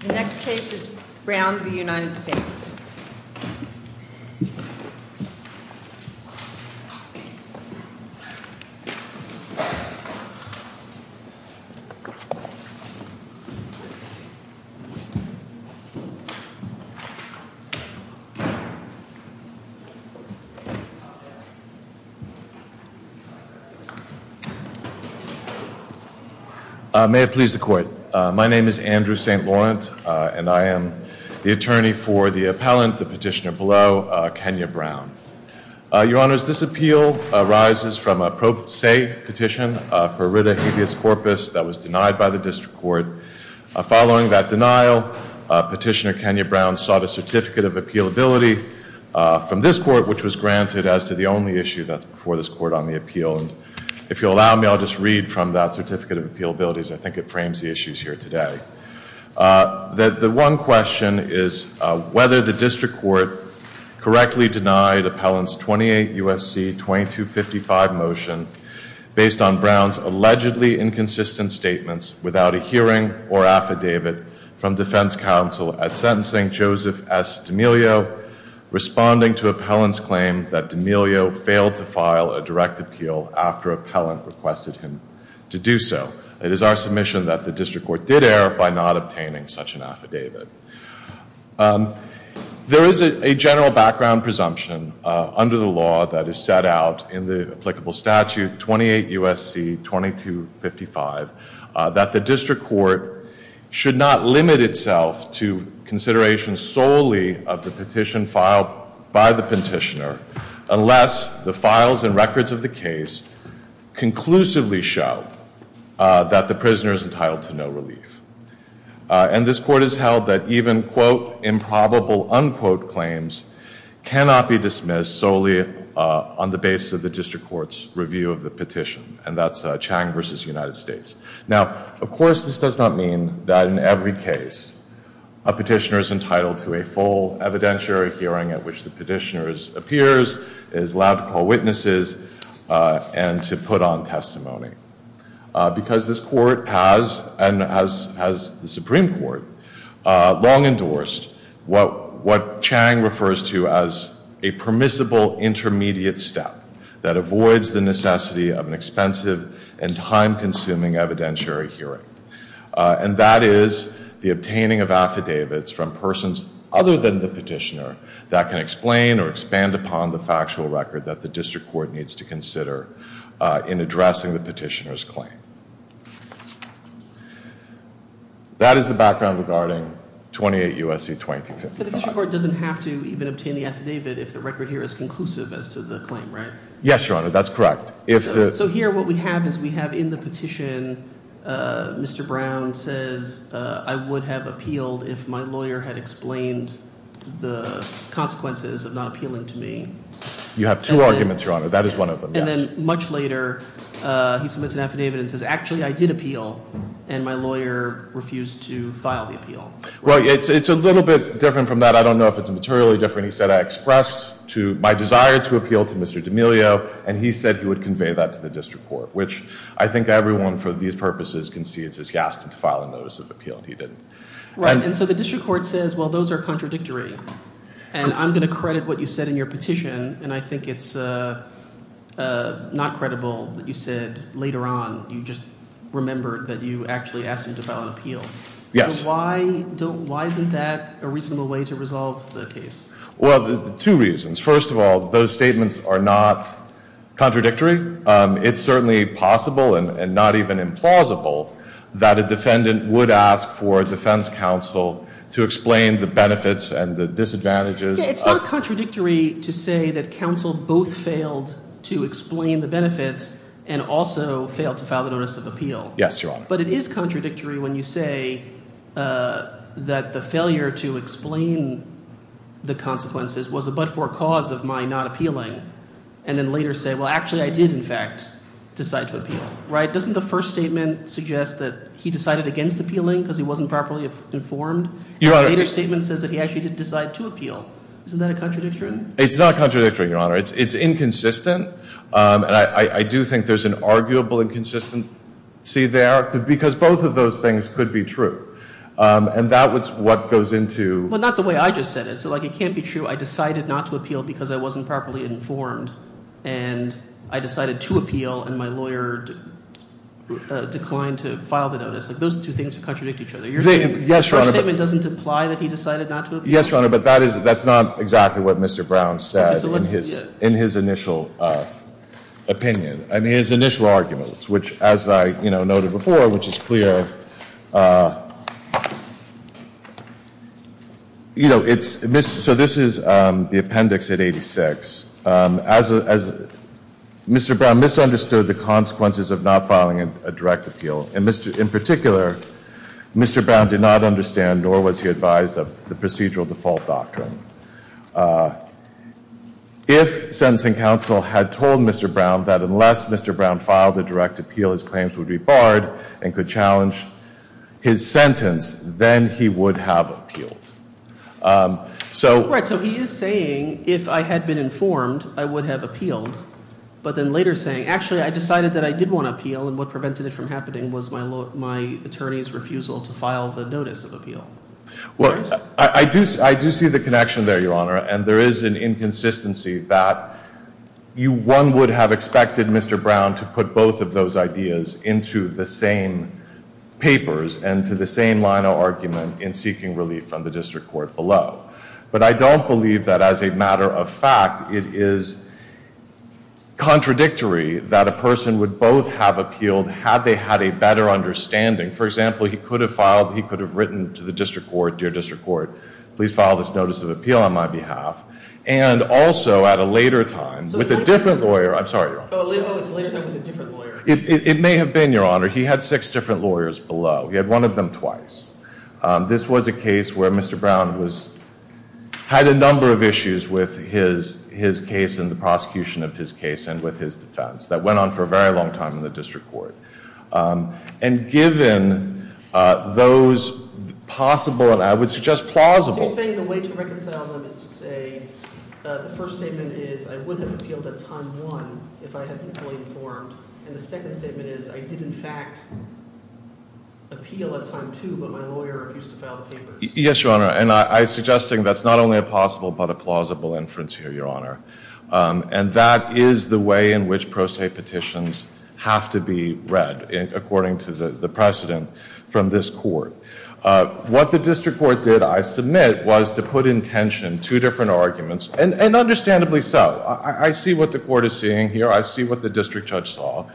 The next case is Brown v. United States. Please be seated. May it please the court, my name is Andrew St. Laurent and I am the attorney for the of Kenya Brown. Your Honor, this appeal arises from a pro se petition for a writ of habeas corpus that was denied by the district court. Following that denial, Petitioner Kenya Brown sought a certificate of appealability from this court, which was granted as to the only issue that's before this court on the appeal. If you'll allow me, I'll just read from that certificate of appealability, I think it frames the issues here today. The one question is whether the district court correctly denied Appellant's 28 U.S.C. 2255 motion based on Brown's allegedly inconsistent statements without a hearing or affidavit from defense counsel at sentencing Joseph S. D'Amelio, responding to Appellant's claim that D'Amelio failed to file a direct appeal after Appellant requested him to do so. It is our submission that the district court did err by not obtaining such an affidavit. There is a general background presumption under the law that is set out in the applicable statute 28 U.S.C. 2255 that the district court should not limit itself to consideration solely of the petition filed by the petitioner unless the files and records of the case conclusively show that the prisoner is entitled to no relief. And this court has held that even quote improbable unquote claims cannot be dismissed solely on the basis of the district court's review of the petition, and that's Chang v. United States. Now, of course, this does not mean that in every case a petitioner is entitled to a full evidentiary hearing at which the petitioner appears, is allowed to call witnesses, and to put on testimony. Because this court has, and has the Supreme Court, long endorsed what Chang refers to as a permissible intermediate step that avoids the necessity of an expensive and time-consuming evidentiary hearing. And that is the obtaining of affidavits from persons other than the petitioner that can in addressing the petitioner's claim. That is the background regarding 28 U.S.C. 2255. But the district court doesn't have to even obtain the affidavit if the record here is conclusive as to the claim, right? Yes, Your Honor. That's correct. So here what we have is we have in the petition Mr. Brown says I would have appealed if my lawyer had explained the consequences of not appealing to me. You have two arguments, Your Honor. That is one of them, yes. And then much later he submits an affidavit and says actually I did appeal, and my lawyer refused to file the appeal. Well, it's a little bit different from that. I don't know if it's materially different. He said I expressed my desire to appeal to Mr. D'Amelio, and he said he would convey that to the district court. Which I think everyone for these purposes can see is he asked him to file a notice of appeal and he didn't. Right. But I don't like what you said in your petition, and I think it's not credible that you said later on you just remembered that you actually asked him to file an appeal. Yes. So why isn't that a reasonable way to resolve the case? Well, two reasons. First of all, those statements are not contradictory. It's certainly possible and not even implausible that a defendant would ask for a defense counsel to explain the benefits and the disadvantages. It's not contradictory to say that counsel both failed to explain the benefits and also failed to file the notice of appeal. Yes, Your Honor. But it is contradictory when you say that the failure to explain the consequences was a but-for cause of my not appealing, and then later say, well, actually I did in fact decide to appeal. Right? Doesn't the first statement suggest that he decided against appealing because he wasn't properly informed? Your Honor. And the later statement says that he actually did decide to appeal. Isn't that a contradictory? It's not contradictory, Your Honor. It's inconsistent, and I do think there's an arguable inconsistency there, because both of those things could be true. And that's what goes into- But not the way I just said it. So it can't be true I decided not to appeal because I wasn't properly informed, and I decided to appeal, and my lawyer declined to file the notice. Those two things contradict each other. Yes, Your Honor. So the first statement doesn't imply that he decided not to appeal? Yes, Your Honor. But that's not exactly what Mr. Brown said in his initial opinion, in his initial arguments, which as I noted before, which is clear, you know, so this is the appendix at 86. Mr. Brown misunderstood the consequences of not filing a direct appeal, and in particular, Mr. Brown did not understand, nor was he advised, of the procedural default doctrine. If sentencing counsel had told Mr. Brown that unless Mr. Brown filed a direct appeal, his claims would be barred and could challenge his sentence, then he would have appealed. So- Right, so he is saying, if I had been informed, I would have appealed. But then later saying, actually I decided that I did want to appeal, and what prevented it from happening was my attorney's refusal to file the notice of appeal. Well, I do see the connection there, Your Honor. And there is an inconsistency that one would have expected Mr. Brown to put both of those ideas into the same papers and to the same line of argument in seeking relief from the district court below. But I don't believe that as a matter of fact, it is contradictory that a person would both have appealed had they had a better understanding. For example, he could have filed, he could have written to the district court, dear district court, please file this notice of appeal on my behalf. And also, at a later time, with a different lawyer, I'm sorry, Your Honor. At a later time with a different lawyer. It may have been, Your Honor, he had six different lawyers below. He had one of them twice. This was a case where Mr. Brown had a number of issues with his case and the prosecution of his case and with his defense. That went on for a very long time in the district court. And given those possible, and I would suggest plausible- So you're saying the way to reconcile them is to say the first statement is, I would have appealed at time one if I had been fully informed. And the second statement is, I did in fact appeal at time two, but my lawyer refused to file the papers. Yes, Your Honor, and I'm suggesting that's not only a possible but a possible, Your Honor, and that is the way in which pro se petitions have to be read according to the precedent from this court. What the district court did, I submit, was to put in tension two different arguments, and understandably so, I see what the court is seeing here, I see what the district judge saw.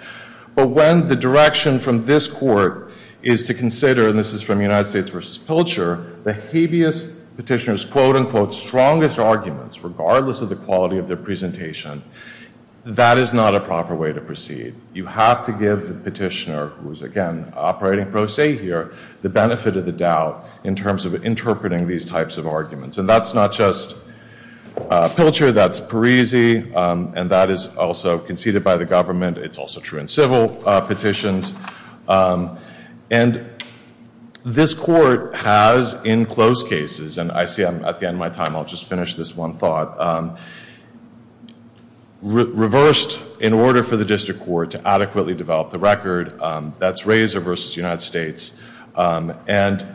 But when the direction from this court is to consider, and this is from United States versus Pilcher, the habeas petitioner's quote unquote strongest arguments, regardless of the quality of their presentation, that is not a proper way to proceed. You have to give the petitioner, who is again operating pro se here, the benefit of the doubt in terms of interpreting these types of arguments. And that's not just Pilcher, that's Parisi, and that is also conceded by the government. It's also true in civil petitions. And this court has in close cases, and I see I'm at the end of my time, I'll just finish this one thought, reversed in order for the district court to adequately develop the record, that's Razor versus United States. And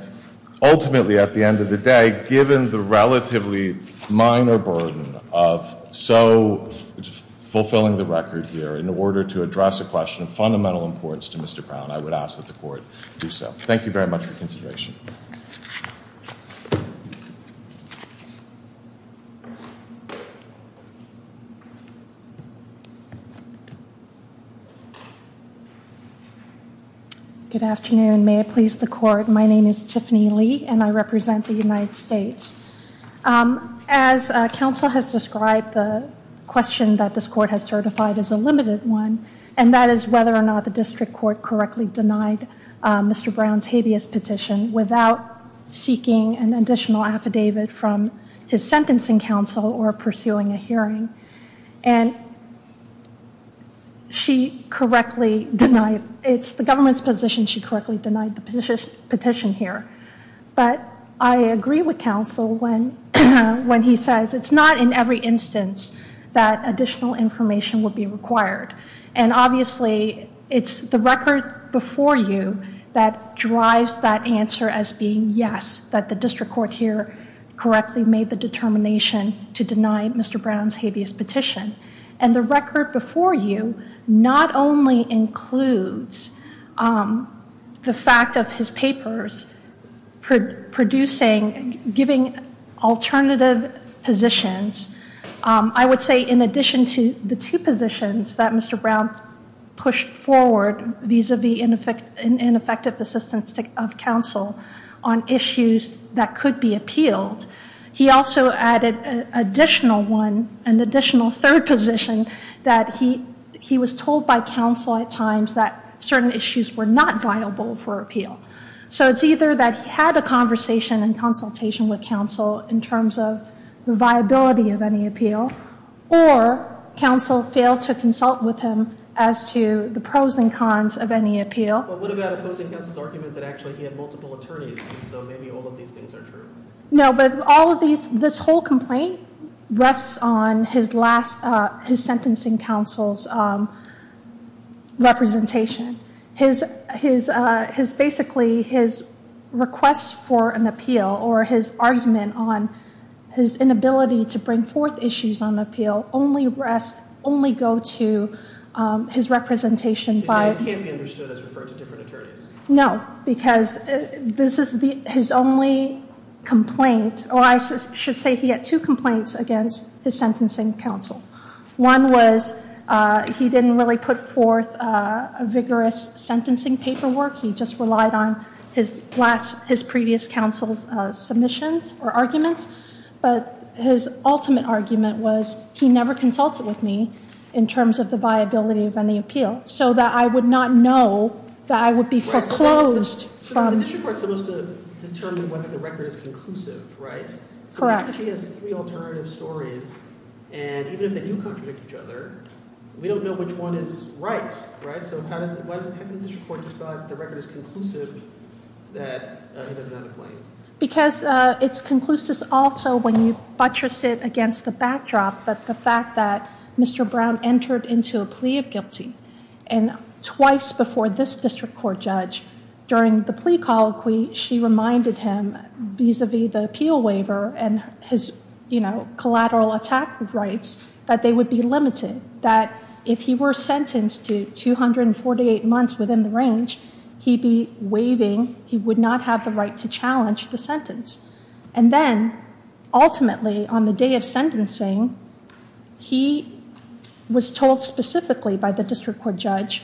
ultimately, at the end of the day, given the relatively minor burden of so fulfilling the record here, in order to address a question of fundamental importance to Mr. Brown, I would ask that the court do so. Thank you very much for your consideration. Good afternoon, may it please the court. My name is Tiffany Lee, and I represent the United States. As counsel has described, the question that this court has certified is a limited one. And that is whether or not the district court correctly denied Mr. Brown's habeas petition without seeking an additional affidavit from his sentencing counsel or pursuing a hearing. And it's the government's position she correctly denied the petition here. But I agree with counsel when he says, it's not in every instance that additional information will be required. And obviously, it's the record before you that drives that answer as being yes, that the district court here correctly made the determination to deny Mr. Brown's habeas petition. And the record before you not only includes the fact of his papers producing, giving alternative positions. I would say in addition to the two positions that Mr. Brown pushed forward, vis-a-vis ineffective assistance of counsel on issues that could be appealed. He also added an additional third position that he was told by certain issues were not viable for appeal. So it's either that he had a conversation and consultation with counsel in terms of the viability of any appeal. Or counsel failed to consult with him as to the pros and cons of any appeal. But what about opposing counsel's argument that actually he had multiple attorneys, and so maybe all of these things are true? No, but all of these, this whole complaint rests on his last, his sentencing counsel's representation. His basically, his request for an appeal or his argument on his inability to bring forth issues on appeal only rest, only go to his representation by- It can't be understood as referred to different attorneys. No, because this is his only complaint, or I should say he had two complaints against his sentencing counsel. One was he didn't really put forth a vigorous sentencing paperwork. He just relied on his previous counsel's submissions or arguments. But his ultimate argument was he never consulted with me in terms of the viability of any appeal. So that I would not know that I would be foreclosed from- The district court's supposed to determine whether the record is conclusive, right? Correct. So he has three alternative stories, and even if they do contradict each other, we don't know which one is right, right? So how does the district court decide if the record is conclusive that he doesn't have a claim? Because it's conclusive also when you buttress it against the backdrop that the fact that Mr. Brown entered into a plea of guilty, and twice before this district court judge, during the plea colloquy, she reminded him vis-a-vis the appeal waiver and his collateral attack rights, that they would be limited. That if he were sentenced to 248 months within the range, he'd be waiving, he would not have the right to challenge the sentence. And then, ultimately, on the day of sentencing, he was told specifically by the district court judge,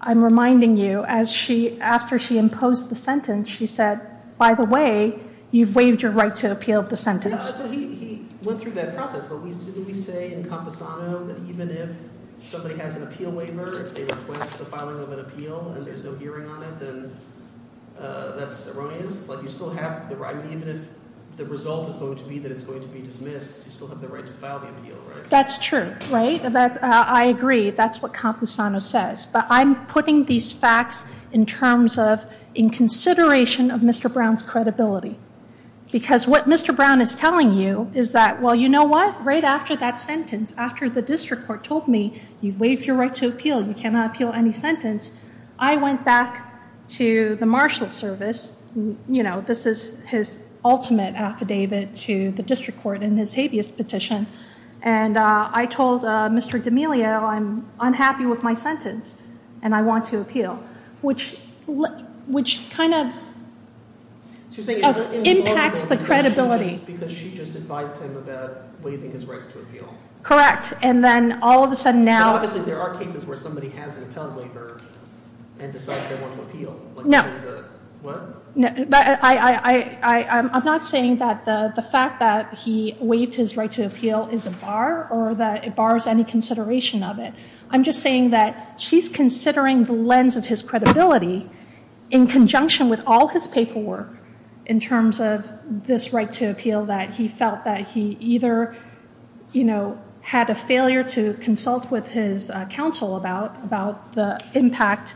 I'm reminding you, after she imposed the sentence, she said, by the way, you've waived your right to appeal the sentence. Yeah, so he went through that process, but we say in Camposano that even if somebody has an appeal waiver, if they request the filing of an appeal and there's no hearing on it, then that's erroneous. Like you still have the right, even if the result is going to be that it's going to be dismissed, you still have the right to file the appeal, right? That's true, right, I agree, that's what Camposano says. But I'm putting these facts in terms of, in consideration of Mr. Brown's credibility. Because what Mr. Brown is telling you is that, well, you know what? Right after that sentence, after the district court told me, you've waived your right to appeal, you cannot appeal any sentence. I went back to the marshal service, this is his ultimate affidavit to the district court in his habeas petition. And I told Mr. D'Amelio, I'm unhappy with my sentence, and I want to appeal. Which kind of impacts the credibility. Because she just advised him about waiving his rights to appeal. Correct, and then all of a sudden now- But obviously there are cases where somebody has an appellate waiver and decides they want to appeal. No. No, I'm not saying that the fact that he waived his right to appeal is a bar, or that it bars any consideration of it. I'm just saying that she's considering the lens of his credibility in conjunction with all his paperwork. In terms of this right to appeal that he felt that he either had a failure to consult with his counsel about the impact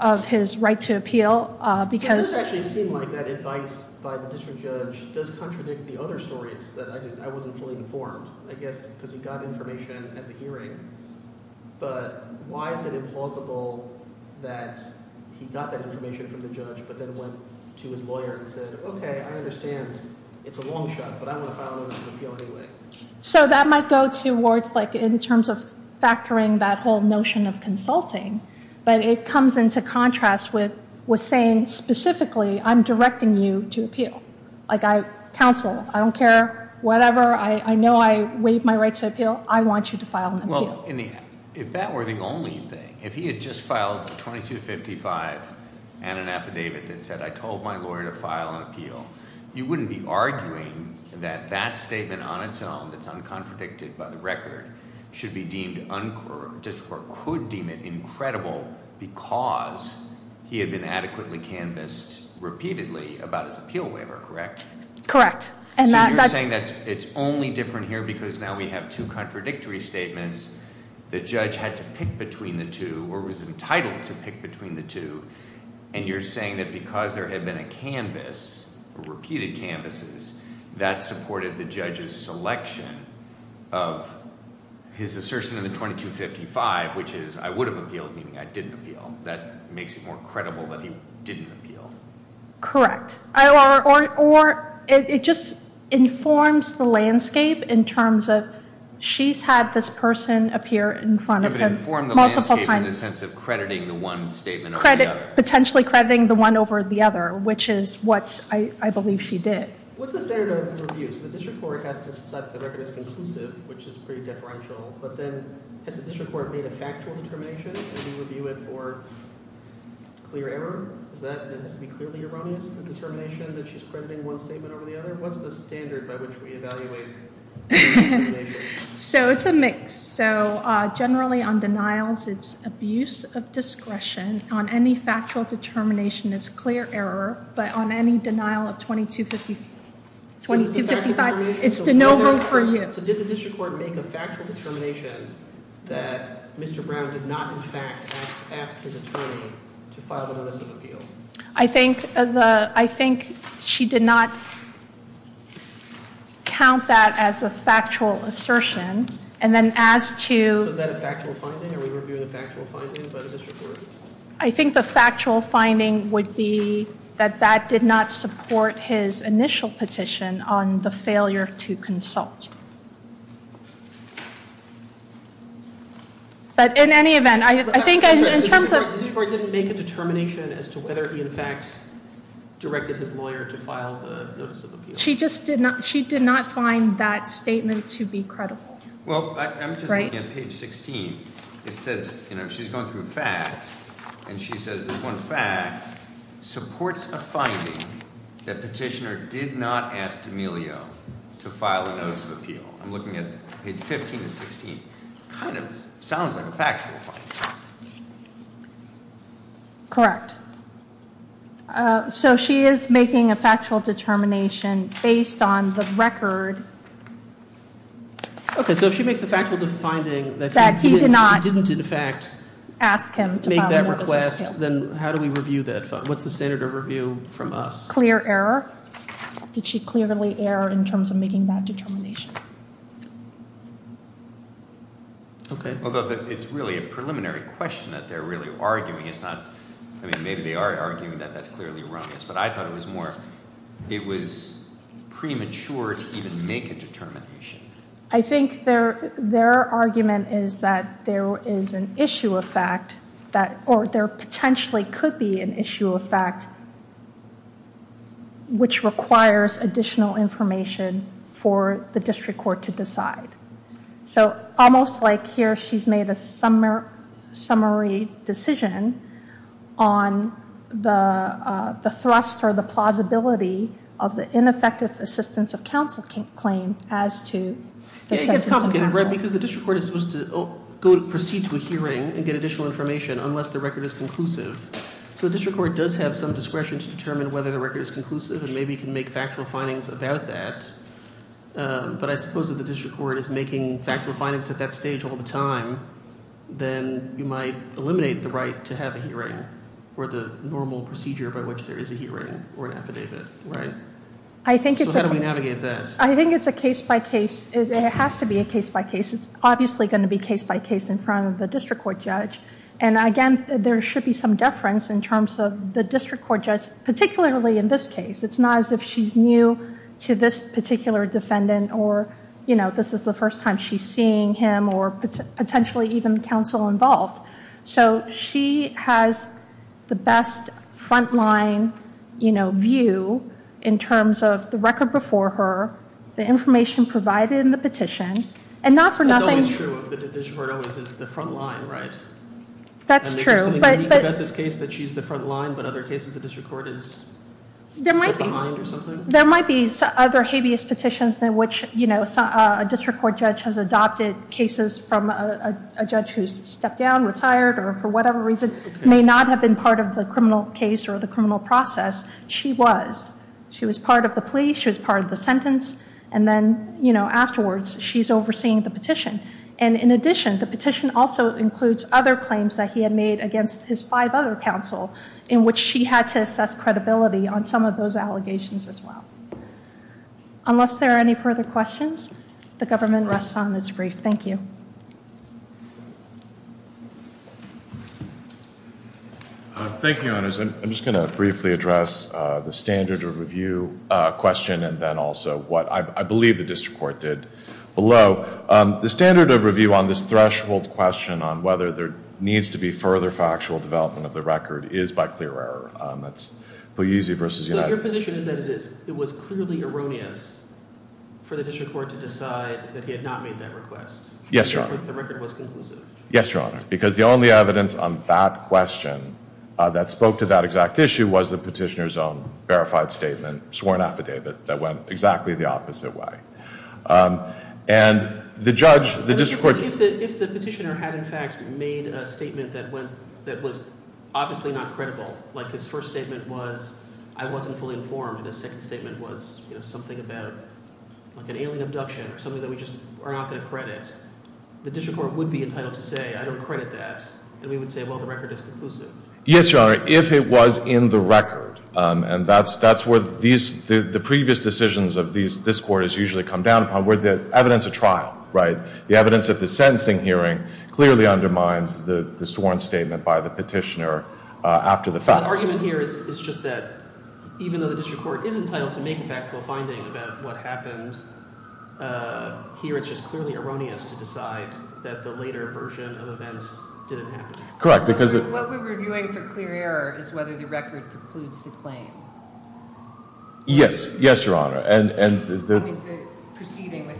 of his right to appeal, because- So it doesn't actually seem like that advice by the district judge does contradict the other stories that I wasn't fully informed. I guess because he got information at the hearing, but why is it implausible that he got that information from the judge, but then went to his lawyer and said, okay, I understand it's a long shot, but I want to file a notice of appeal anyway. So that might go towards in terms of factoring that whole notion of consulting, but it comes into contrast with saying specifically, I'm directing you to appeal. I counsel, I don't care, whatever, I know I waived my right to appeal, I want you to file an appeal. Well, if that were the only thing, if he had just filed a 2255 and an affidavit that said I told my lawyer to file an appeal, you wouldn't be arguing that that statement on its own, that's uncontradicted by the record, should be deemed uncorrect, or could deem it incredible because he had been adequately canvassed repeatedly about his appeal waiver, correct? Correct. And that's- So you're saying it's only different here because now we have two contradictory statements. The judge had to pick between the two, or was entitled to pick between the two. And you're saying that because there had been a canvas, repeated canvases, that supported the judge's selection of his assertion in the 2255, which is I would have appealed, meaning I didn't appeal. That makes it more credible that he didn't appeal. Correct. Or it just informs the landscape in terms of she's had this person appear in front of him multiple times. In the sense of crediting the one statement over the other. Potentially crediting the one over the other, which is what I believe she did. What's the standard of review? So the district court has to set the record as conclusive, which is pretty differential. But then, has the district court made a factual determination, review it for clear error? Is that, does it have to be clearly erroneous, the determination that she's crediting one statement over the other? What's the standard by which we evaluate the determination? So it's a mix. So generally on denials, it's abuse of discretion. On any factual determination, it's clear error. But on any denial of 2255, it's to no vote for you. So did the district court make a factual determination that Mr. Brown did not in fact ask his attorney to file the notice of appeal? I think she did not count that as a factual assertion. And then as to- So is that a factual finding? Are we reviewing a factual finding by the district court? I think the factual finding would be that that did not support his initial petition on the failure to consult. But in any event, I think in terms of- The district court didn't make a determination as to whether he in fact directed his lawyer to file the notice of appeal. She just did not, she did not find that statement to be credible. Well, I'm just looking at page 16, it says, she's going through facts, and she says this one fact supports a finding that petitioner did not ask D'Amelio to file a notice of appeal. I'm looking at page 15 to 16, kind of sounds like a factual finding. Correct. So she is making a factual determination based on the record. Okay, so if she makes a factual defining that he did not- Didn't in fact make that request, then how do we review that? What's the standard of review from us? Clear error. Did she clearly err in terms of making that determination? Okay. It's really a preliminary question that they're really arguing. It's not, I mean, maybe they are arguing that that's clearly wrong. But I thought it was more, it was premature to even make a determination. I think their argument is that there is an issue of fact, or there potentially could be an issue of fact, which requires additional information for the district court to decide. So almost like here, she's made a summary decision on the thrust or the plausibility of the ineffective assistance of counsel claim as to the sentence of counsel. Yeah, it gets complicated, right, because the district court is supposed to proceed to a hearing and get additional information unless the record is conclusive. So the district court does have some discretion to determine whether the record is conclusive, and maybe can make factual findings about that. But I suppose if the district court is making factual findings at that stage all the time, then you might eliminate the right to have a hearing or the normal procedure by which there is a hearing or an affidavit, right? So how do we navigate that? I think it's a case by case, it has to be a case by case. It's obviously going to be case by case in front of the district court judge. And again, there should be some deference in terms of the district court judge, particularly in this case. It's not as if she's new to this particular defendant, or this is the first time she's seeing him, or potentially even counsel involved. So she has the best front line view in terms of the record before her, the information provided in the petition, and not for nothing- It's always true if the district court always is the front line, right? That's true, but- And there's something unique about this case that she's the front line, but other cases the district court is- There might be- Behind or something? Allegations in which a district court judge has adopted cases from a judge who's stepped down, retired, or for whatever reason, may not have been part of the criminal case or the criminal process. She was. She was part of the plea, she was part of the sentence, and then afterwards, she's overseeing the petition. And in addition, the petition also includes other claims that he had made against his five other counsel, in which she had to assess credibility on some of those allegations as well. Unless there are any further questions, the government rests on its brief. Thank you. Thank you, Your Honors. I'm just going to briefly address the standard of review question, and then also what I believe the district court did below. The standard of review on this threshold question on whether there needs to be further factual development of the record is by clear error. That's Pugliese versus United- So your position is that it is. It was clearly erroneous for the district court to decide that he had not made that request. Yes, Your Honor. The record was conclusive. Yes, Your Honor. Because the only evidence on that question that spoke to that exact issue was the petitioner's own verified statement, sworn affidavit, that went exactly the opposite way. And the judge, the district court- If the petitioner had in fact made a statement that went, that was obviously not credible, like his first statement was, I wasn't fully informed, and his second statement was something about an alien abduction or something that we just are not going to credit, the district court would be entitled to say, I don't credit that, and we would say, well, the record is conclusive. Yes, Your Honor. If it was in the record, and that's where the previous decisions of this court has usually come down upon, where the evidence of trial, right? Clearly undermines the sworn statement by the petitioner after the fact. So the argument here is just that, even though the district court is entitled to make a factual finding about what happened here, it's just clearly erroneous to decide that the later version of events didn't happen. Correct, because- What we're reviewing for clear error is whether the record precludes the claim. Yes. Yes, Your Honor. And- I mean, the proceeding with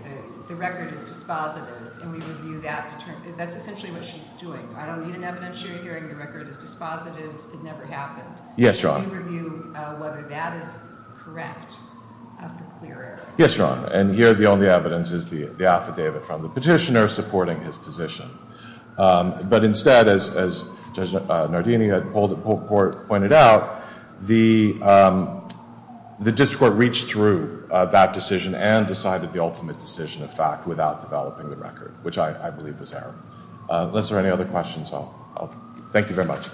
the record is dispositive, and we review that, that's essentially what she's doing. I don't need an evidence hearing, the record is dispositive, it never happened. Yes, Your Honor. And we review whether that is correct after clear error. Yes, Your Honor. And here, the only evidence is the affidavit from the petitioner supporting his position. But instead, as Judge Nardini had pointed out, the district court reached through that decision and decided the ultimate decision of fact without developing the record, which I believe was error. Unless there are any other questions, I'll, thank you very much.